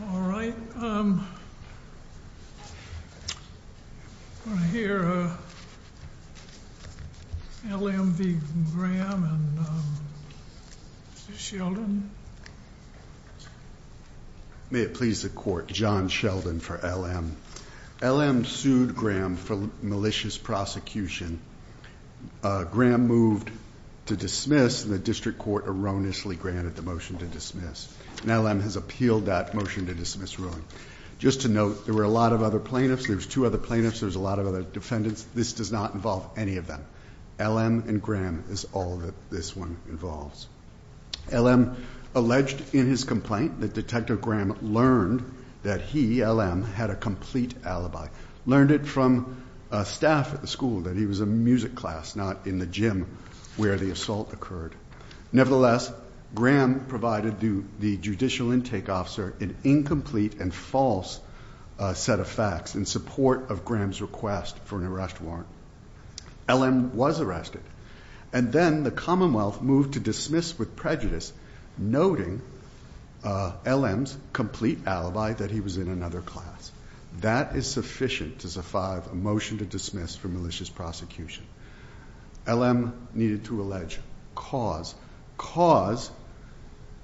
All right. I hear L.M. v. Graham and Sheldon. May it please the court, John Sheldon for L.M. L.M. sued Graham for malicious prosecution. Graham moved to dismiss and the district court erroneously granted the motion to dismiss. And L.M. has appealed that motion to dismiss ruling. Just to note, there were a lot of other plaintiffs. There's two other plaintiffs. There's a lot of other defendants. This does not involve any of them. L.M. and Graham is all that this one involves. L.M. alleged in his complaint that Detective Graham learned that he, L.M., had a complete alibi. Learned it from staff at the school that he was a music class, not in the gym where the assault occurred. Nevertheless, Graham provided the judicial intake officer an incomplete and false set of facts in support of Graham's request for an arrest warrant. L.M. was arrested. And then the Commonwealth moved to dismiss with prejudice, noting L.M.'s incomplete alibi that he was in another class. That is sufficient to survive a motion to dismiss for malicious prosecution. L.M. needed to allege cause. Cause,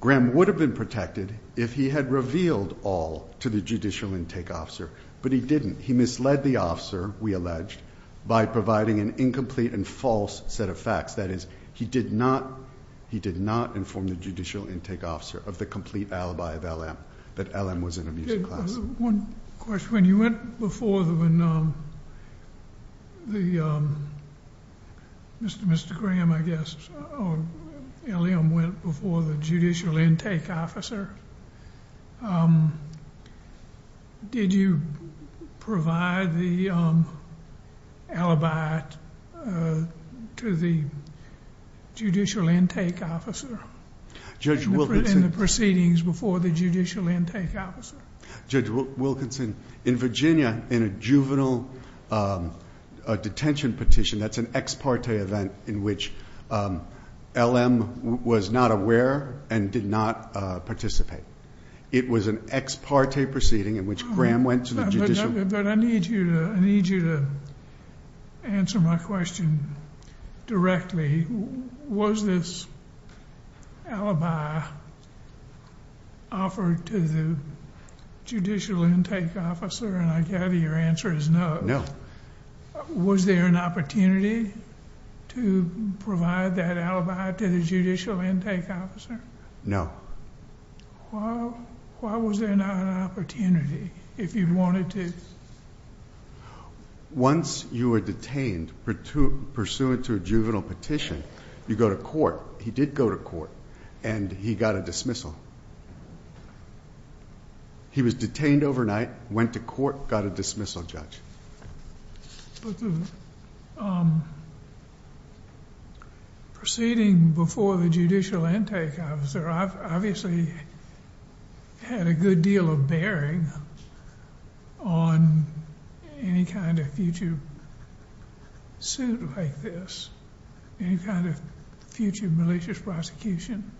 Graham would have been protected if he had revealed all to the judicial intake officer. But he didn't. He misled the officer, we alleged, by providing an incomplete and false set of facts. That did not inform the judicial intake officer of the complete alibi of L.M. that L.M. was in a music class. One question. When you went before, Mr. Graham, I guess, or L.M. went before the judicial intake officer in the proceedings before the judicial intake officer? Judge Wilkinson, in Virginia, in a juvenile detention petition, that's an ex parte event in which L.M. was not aware and did not participate. It was an ex parte proceeding in which Graham went to the judicial... But I need you to answer my question directly. Was this alibi offered to the judicial intake officer? And I gather your answer is no. No. Was there an opportunity to provide that alibi to the judicial intake officer? No. Why was there not an opportunity if you wanted to? Once you were detained pursuant to a juvenile petition, you go to court. He did go to court and he got a dismissal. He was detained overnight, went to court, got a dismissal, Judge. But the proceeding before the judicial intake officer obviously had a good deal of bearing on any kind of future suit like this, any kind of future malicious prosecution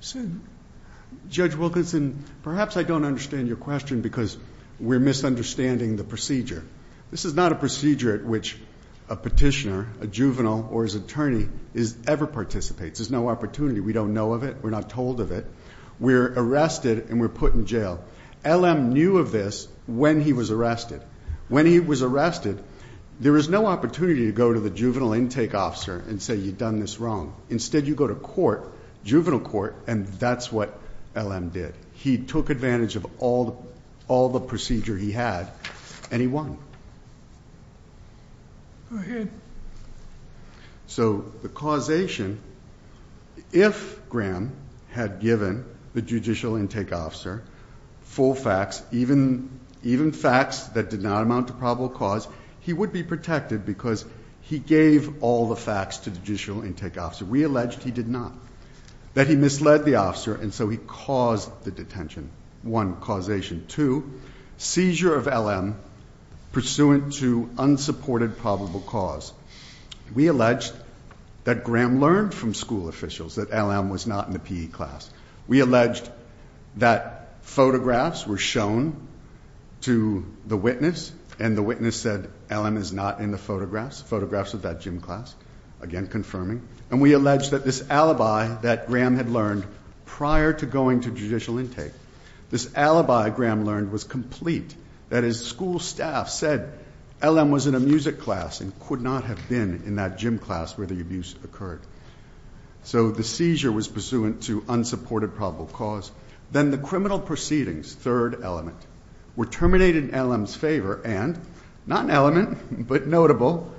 suit. Judge Wilkinson, perhaps I don't understand your question because we're misunderstanding the procedure. This is not a procedure at which a petitioner, a juvenile, or his attorney ever participates. There's no opportunity. We don't know of it. We're not told of it. We're arrested and we're put in jail. L.M. knew of this when he was arrested. When he was arrested, there was no opportunity to go to the juvenile intake officer and say you've done this wrong. Instead you go to court, juvenile court, and that's what L.M. did. He took advantage of all the procedure he had and he won. So the causation, if Graham had given the judicial intake officer full facts, even facts that did not amount to probable cause, he would be protected because he gave all the facts to the judicial intake officer. We allege he did not. That he misled the officer and so he caused the detention. One, causation. Two, seizure of L.M. pursuant to unsupported probable cause. We allege that Graham learned from school officials that L.M. was not in the PE class. We allege that photographs were shown to the witness and the witness said L.M. is not in the photographs, photographs of that gym class. Again confirming. And we allege that this alibi that Graham had learned prior to going to judicial intake, this alibi Graham learned was complete. That his school staff said L.M. was in a music class and could not have been in that gym class where the abuse occurred. So the seizure was pursuant to unsupported probable cause. Then the criminal proceedings, third element, were terminated in L.M.'s favor and, not an element, but notable,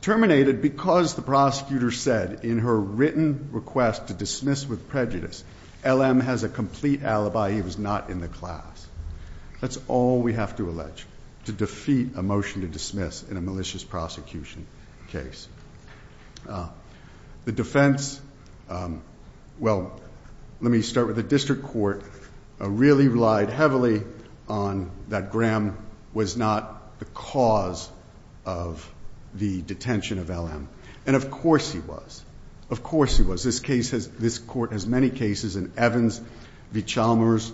terminated because the prosecutor said in her written request to dismiss with prejudice, L.M. has a complete alibi, he was not in the class. That's all we have to allege to defeat a motion to dismiss in a malicious prosecution case. The defense, well, let me start with the district court, really relied heavily on that Graham was not the cause of the detention of L.M. And of course he was. Of course he was. This court has many cases and Evans v. Chalmers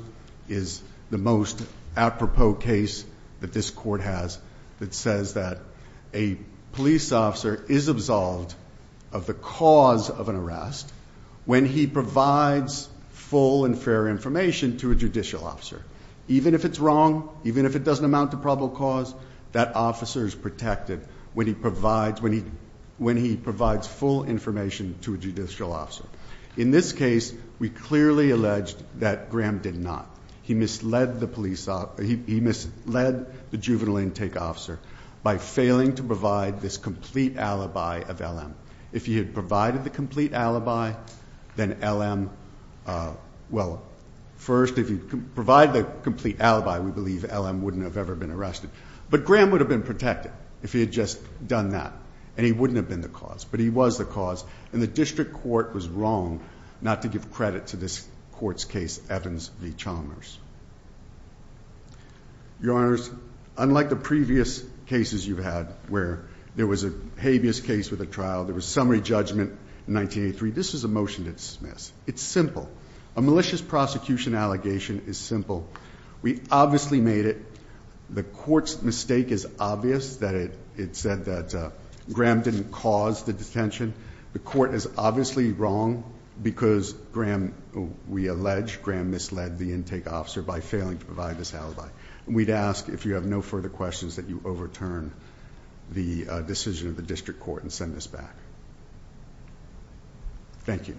is the most apropos case that this court has that says that a police officer is absolved of the cause of even if it's wrong, even if it doesn't amount to probable cause, that officer is protected when he provides full information to a judicial officer. In this case, we clearly allege that Graham did not. He misled the juvenile intake officer by failing to provide this complete alibi. We believe L.M. wouldn't have ever been arrested. But Graham would have been protected if he had just done that. And he wouldn't have been the cause. But he was the cause. And the district court was wrong not to give credit to this court's case, Evans v. Chalmers. Your Honors, unlike the previous cases you've had where there was a habeas case with a trial, there was summary judgment in 1983, this is a motion to dismiss. It's simple. We obviously made it. The court's mistake is obvious that it said that Graham didn't cause the detention. The court is obviously wrong because we allege Graham misled the intake officer by failing to provide this alibi. And we'd ask if you have no further questions that you overturn the decision of the district court and send this back. Thank you.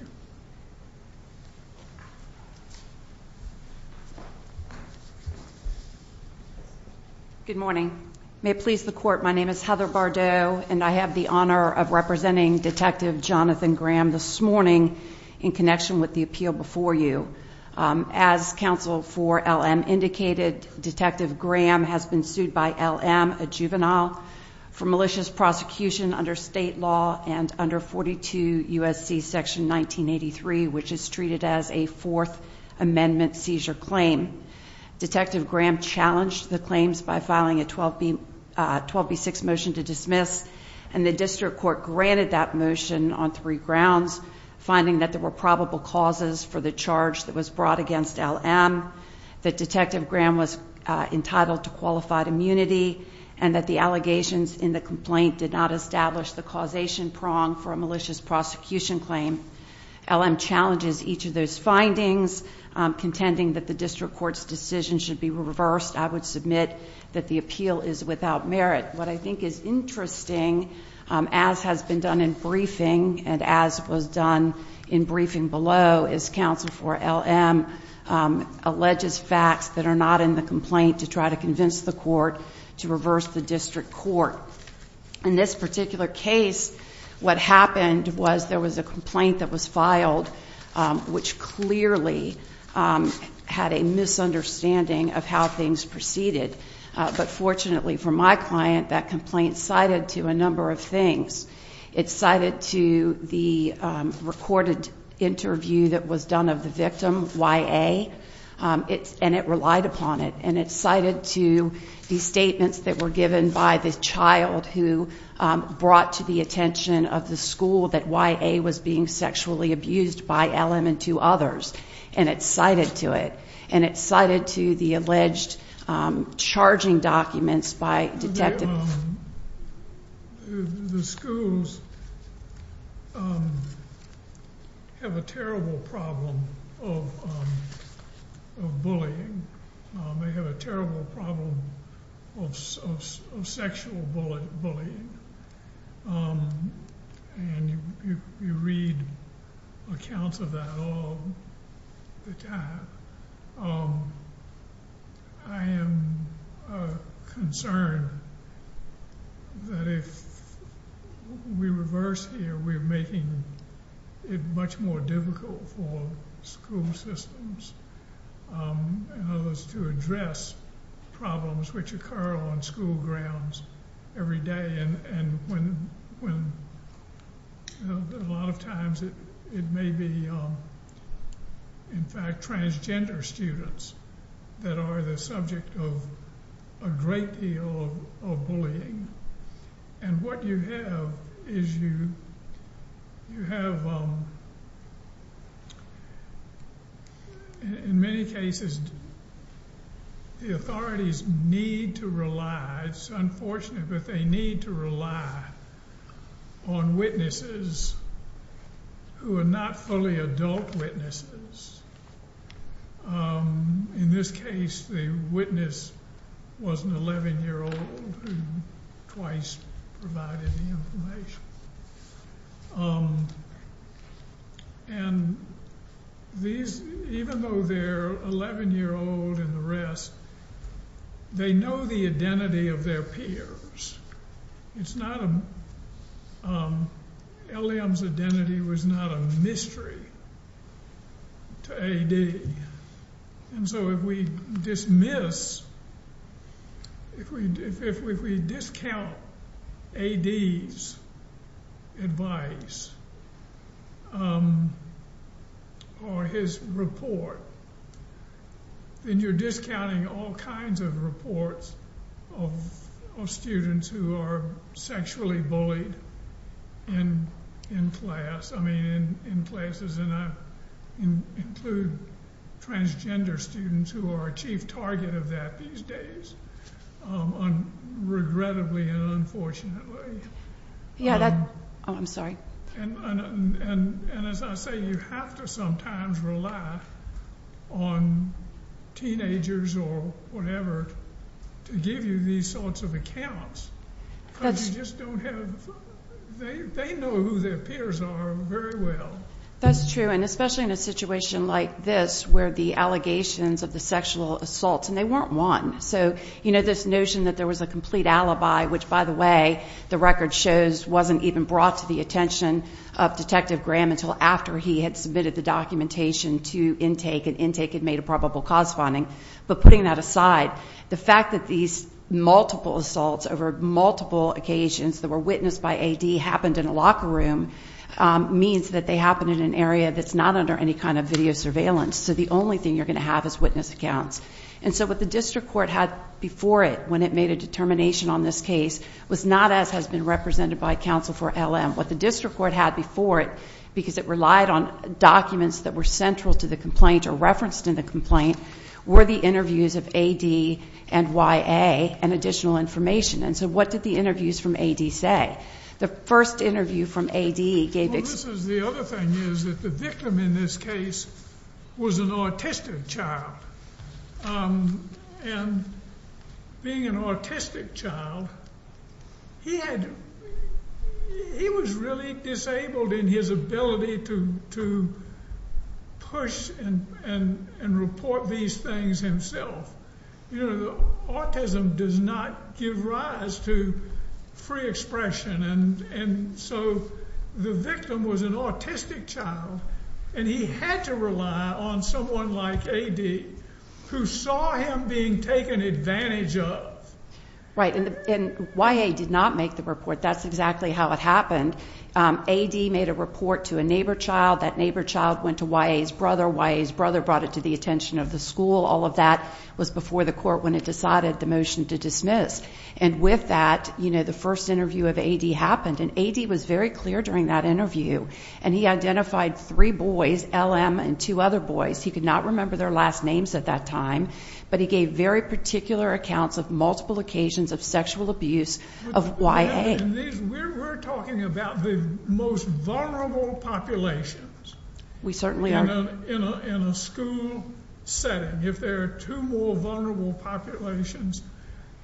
Good morning. May it please the court, my name is Heather Bardot and I have the honor of representing Detective Jonathan Graham this morning in connection with the appeal before you. As counsel for L.M. indicated, Detective Graham has been sued by L.M., a juvenile, for malicious prosecution under state law and under 42 U.S.C. section 1983 which is treated as a Fourth Amendment seizure claim. Detective Graham challenged the claims by filing a 12B6 motion to dismiss and the district court granted that motion on three grounds, finding that there were probable causes for the charge that was brought against L.M., that Detective Graham was entitled to qualified immunity and that the allegations in the complaint did not establish the causation prong for a malicious prosecution claim. L.M. challenges each of those findings contending that the district court's decision should be reversed. I would submit that the appeal is without merit. What I think is interesting as has been done in briefing and as was done in briefing below is counsel for L.M. alleges facts that are not in the complaint to try to convince the court to reverse the district court. In this particular case, what happened was there was a complaint that was filed which clearly had a misunderstanding of how things proceeded. But fortunately for my client, that complaint cited to a number of things. It cited to the recorded interview that was done of the victim, Y.A., and it relied upon it. And it cited to the statements that were given by the child who brought to the attention of the school that Y.A. was being sexually abused by L.M. and two others. And it cited to it. And it cited to the alleged charging documents by detectives. The schools have a terrible problem of bullying. They have a terrible problem of sexual bullying. And you read accounts of that all the time. I am concerned that if we reverse here, we're making it much more difficult for school systems and others to address problems which occur on school grounds every day. And a lot of times it may be, in fact, transgender students that are the subject of a great deal of bullying. And what you have is you have, in many cases, the authorities need to rely, it's unfortunate, but they need to rely on witnesses who are not fully adult witnesses. In this case, the witness was an 11-year-old who twice provided the information. And these, even though they're 11-year-old and the rest, they know the identity of their peers. It's not a, L.M.'s identity was not a mystery to A.D. And so if we dismiss, if we discount A.D.'s advice or his report, then you're discounting all kinds of reports of students who are sexually bullied in class, I mean in places, and include transgender students who are a chief target of that these days, regrettably and unfortunately. And as I say, you have to sometimes rely on teenagers or whatever to give you these sorts of accounts because you just don't have, they know who their peers are very well. That's true. And especially in a situation like this where the allegations of the sexual assaults, and they weren't one. So this notion that there was a complete alibi, which by the way, the record shows wasn't even brought to the attention of Detective Graham until after he had submitted the documentation to intake and intake had made a probable cause finding. But putting that aside, the fact that these multiple assaults over multiple occasions that were witnessed by A.D. happened in a locker room means that they happened in an area that's not under any kind of video surveillance. So the only thing you're going to have is witness accounts. And so what the district court had before it when it made a determination on this case was not as has been represented by counsel for L.M. What the district court had before it, because it relied on documents that were central to the complaint or referenced in the complaint, were the interviews of A.D. and Y.A. and additional information. And so what did the interviews from A.D. say? The first interview from A.D. gave... The other thing is that the victim in this case was an autistic child. And being an autistic child, he was really disabled in his ability to push and report these things himself. Autism does not give rise to free expression. And so the victim was an autistic child. And he had to rely on someone like A.D. who saw him being taken advantage of. Right. And Y.A. did not make the report. That's exactly how it happened. A.D. made a report to a neighbor child. That neighbor child went to Y.A.'s brother. Y.A.'s brother brought it to the attention of the school. All of that was before the court when it decided the motion to dismiss. And with that, you know, the first interview of A.D. happened. And A.D. was very clear during that interview. And he identified three boys, L.M. and two other boys. He could not remember their last names at that time. But he gave very particular accounts of multiple occasions of sexual abuse of Y.A. We're talking about the most vulnerable populations. We certainly are. In a school setting. If there are two more vulnerable populations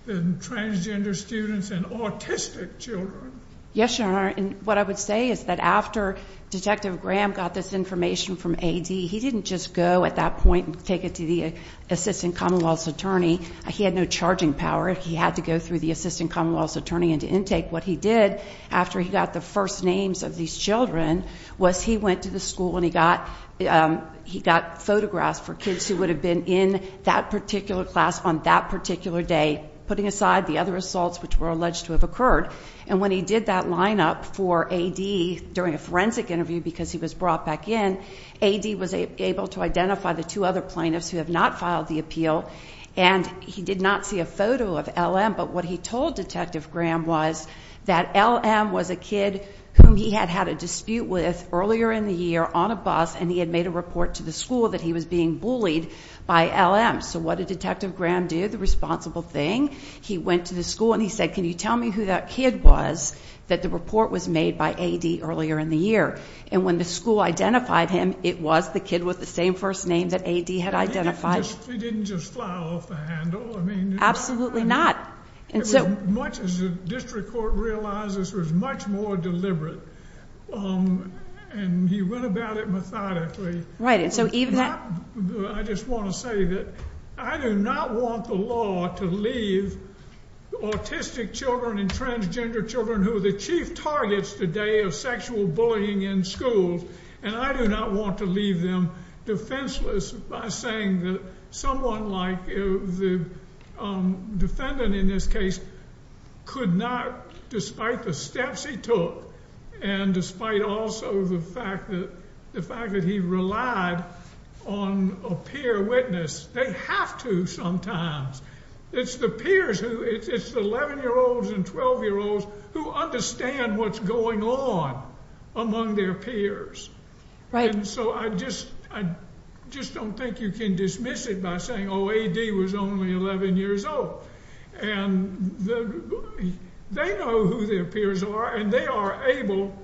than transgender students and autistic children. Yes, Your Honor. And what I would say is that after Detective Graham got this information from A.D., he didn't just go at that point and take it to the Assistant Commonwealth's Attorney. He had no charging power. He had to go through the Assistant Commonwealth's Attorney into intake. What he did after he got the first names of these children was he went to the school and he got photographs for kids who would have been in that particular class on that particular day, putting aside the other assaults which were alleged to have occurred. And when he did that lineup for A.D. during a forensic interview because he was brought back in, A.D. was able to identify the two other plaintiffs who have not filed the appeal and he did not see a photo of L.M. But what he told Detective Graham was that L.M. was a kid whom he had had a dispute with earlier in the year on a bus and he had made a report to the school that he was being bullied by L.M. So what did Detective Graham do? The responsible thing? He went to the school and he said, can you tell me who that kid was that the report was made by A.D. earlier in the year? And when the school identified him, it was the kid with the same first name that A.D. had identified. He didn't just fly off the handle? Absolutely not. As much as the district court realizes, he was much more deliberate and he went about it methodically. Right. I just want to say that I do not want the law to leave autistic children and transgender children who the chief targets today of sexual bullying in schools, and I do not want to leave them defenseless by saying that someone like the defendant in this case could not, despite the steps he took and despite also the fact that he relied on a peer witness, they have to sometimes. It's the peers, it's the 11-year-olds and 12-year-olds who understand what's going on among their peers. Right. And so I just don't think you can dismiss it by saying, oh, A.D. was only 11 years old. And they know who their peers are and they are able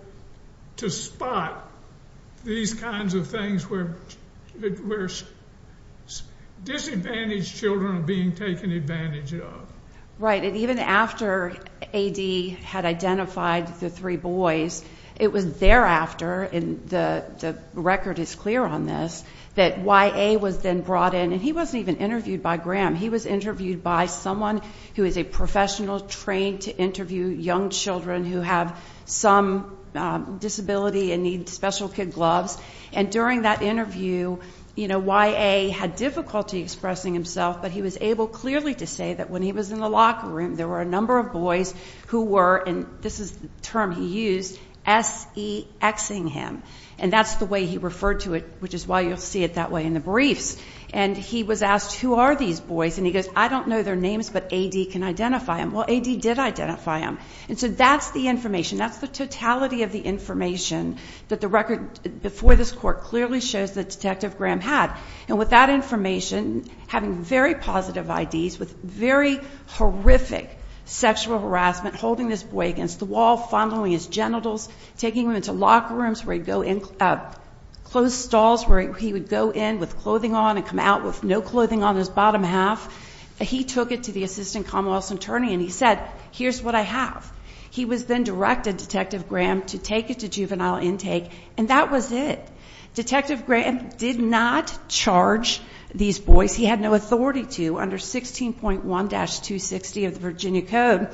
to spot these kinds of things where disadvantaged children are being taken advantage of. Right, and even after A.D. had identified the three boys, it was thereafter, and the record is clear on this, that Y.A. was then brought in, and he wasn't even interviewed by Graham. He was interviewed by someone who is a professional trained to interview young children who have some disability and need special kid gloves. And during that interview, Y.A. had difficulty expressing himself, but he was able clearly to say that when he was in the locker room, there were a number of boys who were, and this is the term he used, S.E.X-ing him. And that's the way he referred to it, which is why you'll see it that way in the briefs. And he was asked, who are these boys? And he goes, I don't know their names, but A.D. can identify them. Well, A.D. did identify them. And so that's the information. That's the totality of the information that the record before this court clearly shows that Detective Graham had. And with that information, having very positive I.D.s, with very horrific sexual harassment, holding this boy against the wall, fondling his genitals, taking him into locker rooms where he'd go in, closed stalls where he would go in with clothing on and come out with no clothing on his bottom half. He took it to the assistant commonwealth's attorney, and he said, here's what I have. He was then directed, Detective Graham, to take it to juvenile intake, and that was it. Detective Graham did not charge these boys. He had no authority to under 16.1-260 of the Virginia Code.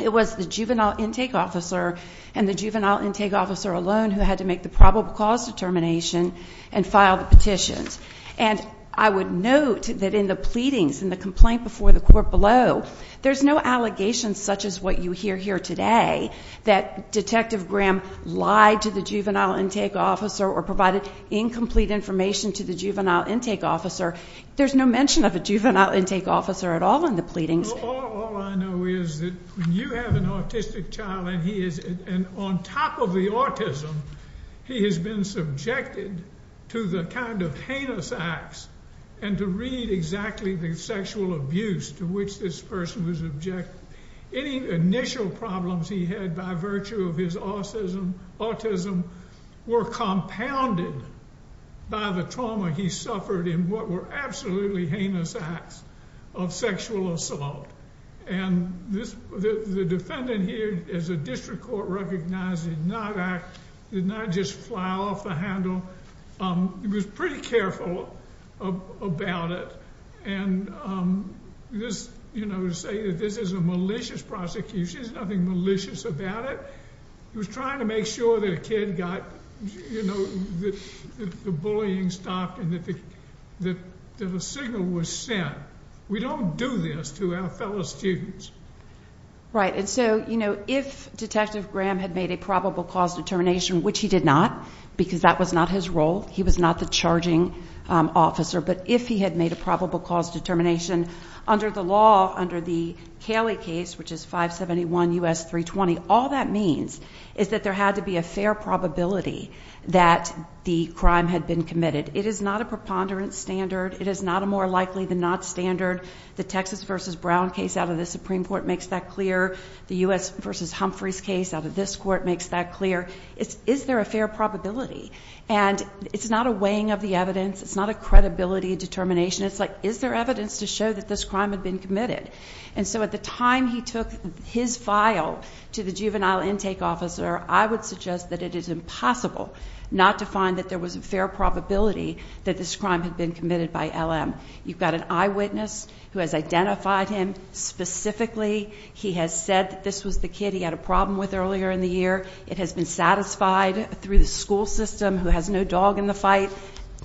It was the juvenile intake officer and the juvenile intake officer alone who had to make the probable cause determination and file the petitions. And I would note that in the pleadings and the complaint before the court below, there's no allegations such as what you hear here today, that Detective Graham lied to the juvenile intake officer or provided incomplete information to the juvenile intake officer. There's no mention of a juvenile intake officer at all in the pleadings. All I know is that when you have an autistic child and he is on top of the autism, he has been subjected to the kind of heinous acts and to read exactly the sexual abuse to which this person was objected. Any initial problems he had by virtue of his autism were compounded by the trauma he suffered in what were absolutely heinous acts of sexual assault. And the defendant here, as the district court recognized, did not just fly off the handle. He was pretty careful about it. And to say that this is a malicious prosecution, there's nothing malicious about it. He was trying to make sure that a kid got the bullying stopped and that a signal was sent. We don't do this to our fellow students. Right, and so if Detective Graham had made a probable cause determination, which he did not, because that was not his role, he was not the charging officer, but if he had made a probable cause determination under the law, under the Caley case, which is 571 U.S. 320, all that means is that there had to be a fair probability that the crime had been committed. It is not a preponderance standard. It is not a more likely than not standard. The Texas v. Brown case out of the Supreme Court makes that clear. The U.S. v. Humphreys case out of this court makes that clear. Is there a fair probability? And it's not a weighing of the evidence. It's not a credibility determination. It's like, is there evidence to show that this crime had been committed? And so at the time he took his file to the juvenile intake officer, I would suggest that it is impossible not to find that there was a fair probability that this crime had been committed by LM. You've got an eyewitness who has identified him specifically. He has said that this was the kid he had a problem with earlier in the year. It has been satisfied through the school system who has no dog in the fight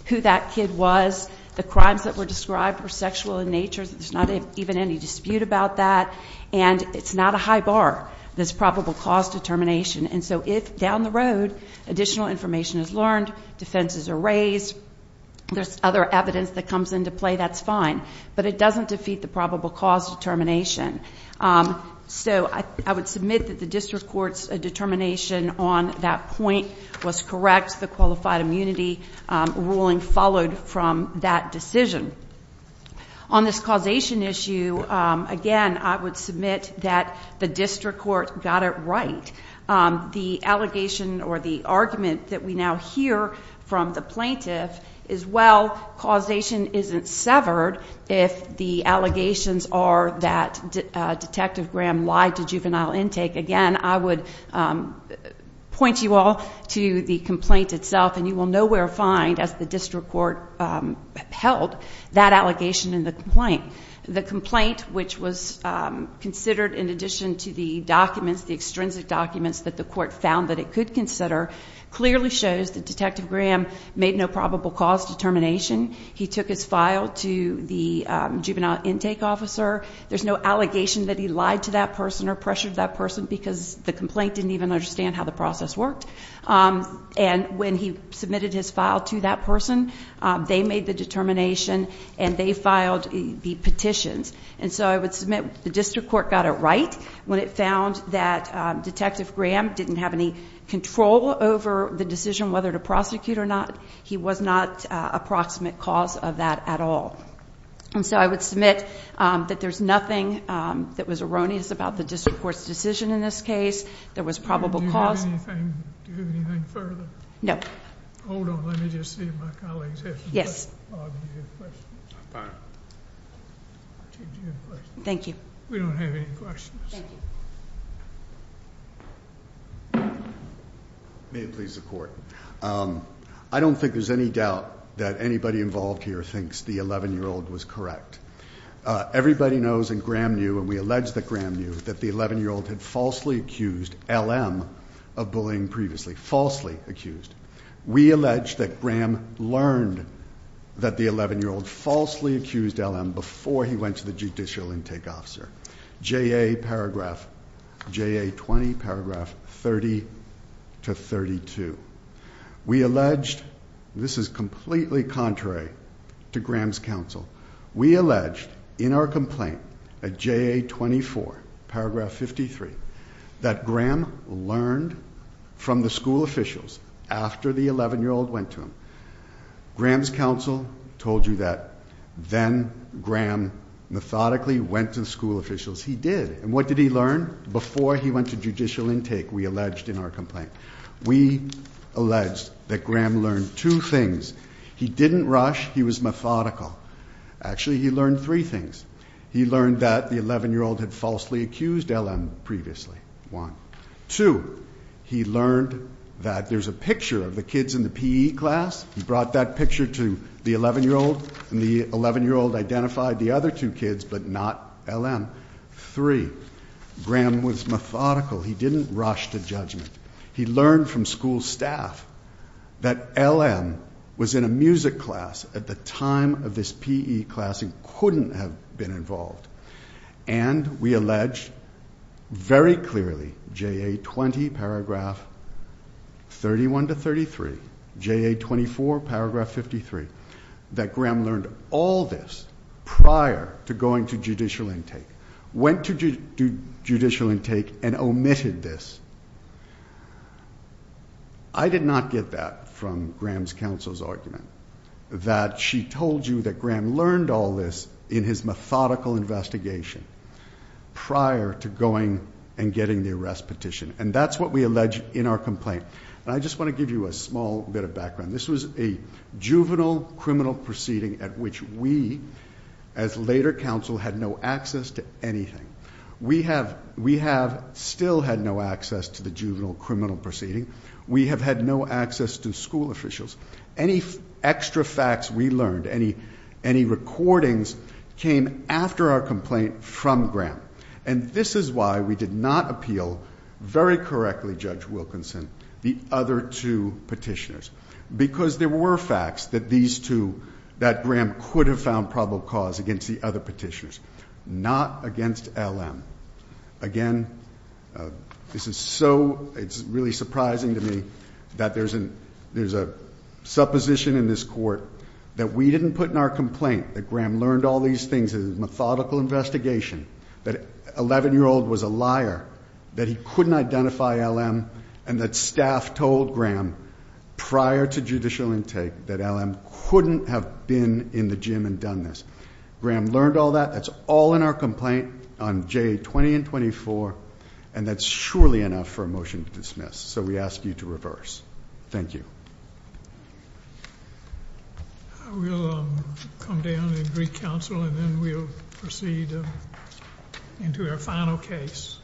who that kid was. The crimes that were described were sexual in nature. There's not even any dispute about that. And it's not a high bar, this probable cause determination. And so if down the road additional information is learned, defenses are raised, there's other evidence that comes into play, that's fine. But it doesn't defeat the probable cause determination. So I would submit that the district court's determination on that point was correct. The qualified immunity ruling followed from that decision. On this causation issue, again, I would submit that the district court got it right. The allegation or the argument that we now hear from the plaintiff is, well, causation isn't severed if the allegations are that Detective Graham lied to juvenile intake. Again, I would point you all to the complaint itself, and you will nowhere find, as the district court held, that allegation in the complaint. The complaint, which was considered in addition to the documents, the extrinsic documents that the court found that it could consider, clearly shows that Detective Graham made no probable cause determination. He took his file to the juvenile intake officer. There's no allegation that he lied to that person or pressured that person because the complaint didn't even understand how the process worked. And when he submitted his file to that person, they made the determination, and they filed the petitions. And so I would submit the district court got it right when it found that Detective Graham didn't have any control over the decision whether to prosecute or not. He was not a proximate cause of that at all. And so I would submit that there's nothing that was erroneous about the district court's decision in this case. There was probable cause. Do you have anything further? No. Hold on. Let me just see if my colleagues have some questions. Bob, do you have a question? I'm fine. Chief, do you have a question? Thank you. We don't have any questions. Thank you. May it please the Court. I don't think there's any doubt that anybody involved here thinks the 11-year-old was correct. Everybody knows, and Graham knew, and we allege that Graham knew, that the 11-year-old had falsely accused L.M. of bullying previously. Falsely accused. We allege that Graham learned that the 11-year-old falsely accused L.M. before he went to the judicial intake officer. J.A. paragraph, J.A. 20, paragraph 30-32. We allege, this is completely contrary to Graham's counsel, we allege in our complaint at J.A. 24, paragraph 53, that Graham learned from the school officials after the 11-year-old went to him. Graham's counsel told you that then Graham methodically went to the school officials. He did. And what did he learn before he went to judicial intake, we allege in our complaint? We allege that Graham learned two things. He didn't rush. He was methodical. Actually, he learned three things. He learned that the 11-year-old had falsely accused L.M. previously, one. Two, he learned that there's a picture of the kids in the P.E. class. He brought that picture to the 11-year-old, and the 11-year-old identified the other two kids but not L.M. Three, Graham was methodical. He didn't rush to judgment. He learned from school staff that L.M. was in a music class at the time of this P.E. class and couldn't have been involved. And we allege very clearly, J.A. 20, paragraph 31 to 33, J.A. 24, paragraph 53, that Graham learned all this prior to going to judicial intake. Went to judicial intake and omitted this. I did not get that from Graham's counsel's argument, that she told you that Graham learned all this in his methodical investigation prior to going and getting the arrest petition. And that's what we allege in our complaint. And I just want to give you a small bit of background. This was a juvenile criminal proceeding at which we, as later counsel, had no access to anything. We have still had no access to the juvenile criminal proceeding. We have had no access to school officials. Any extra facts we learned, any recordings, came after our complaint from Graham. And this is why we did not appeal very correctly, Judge Wilkinson, the other two petitioners. Because there were facts that these two, that Graham could have found probable cause against the other petitioners. Not against L.M. Again, this is so, it's really surprising to me that there's a supposition in this court that we didn't put in our complaint that Graham learned all these things in his methodical investigation, that an 11-year-old was a liar, that he couldn't identify L.M., and that staff told Graham prior to judicial intake that L.M. couldn't have been in the gym and done this. Graham learned all that. That's all in our complaint on J. 20 and 24. And that's surely enough for a motion to dismiss. So we ask you to reverse. Thank you. We'll come down and greet counsel, and then we'll proceed into our final case.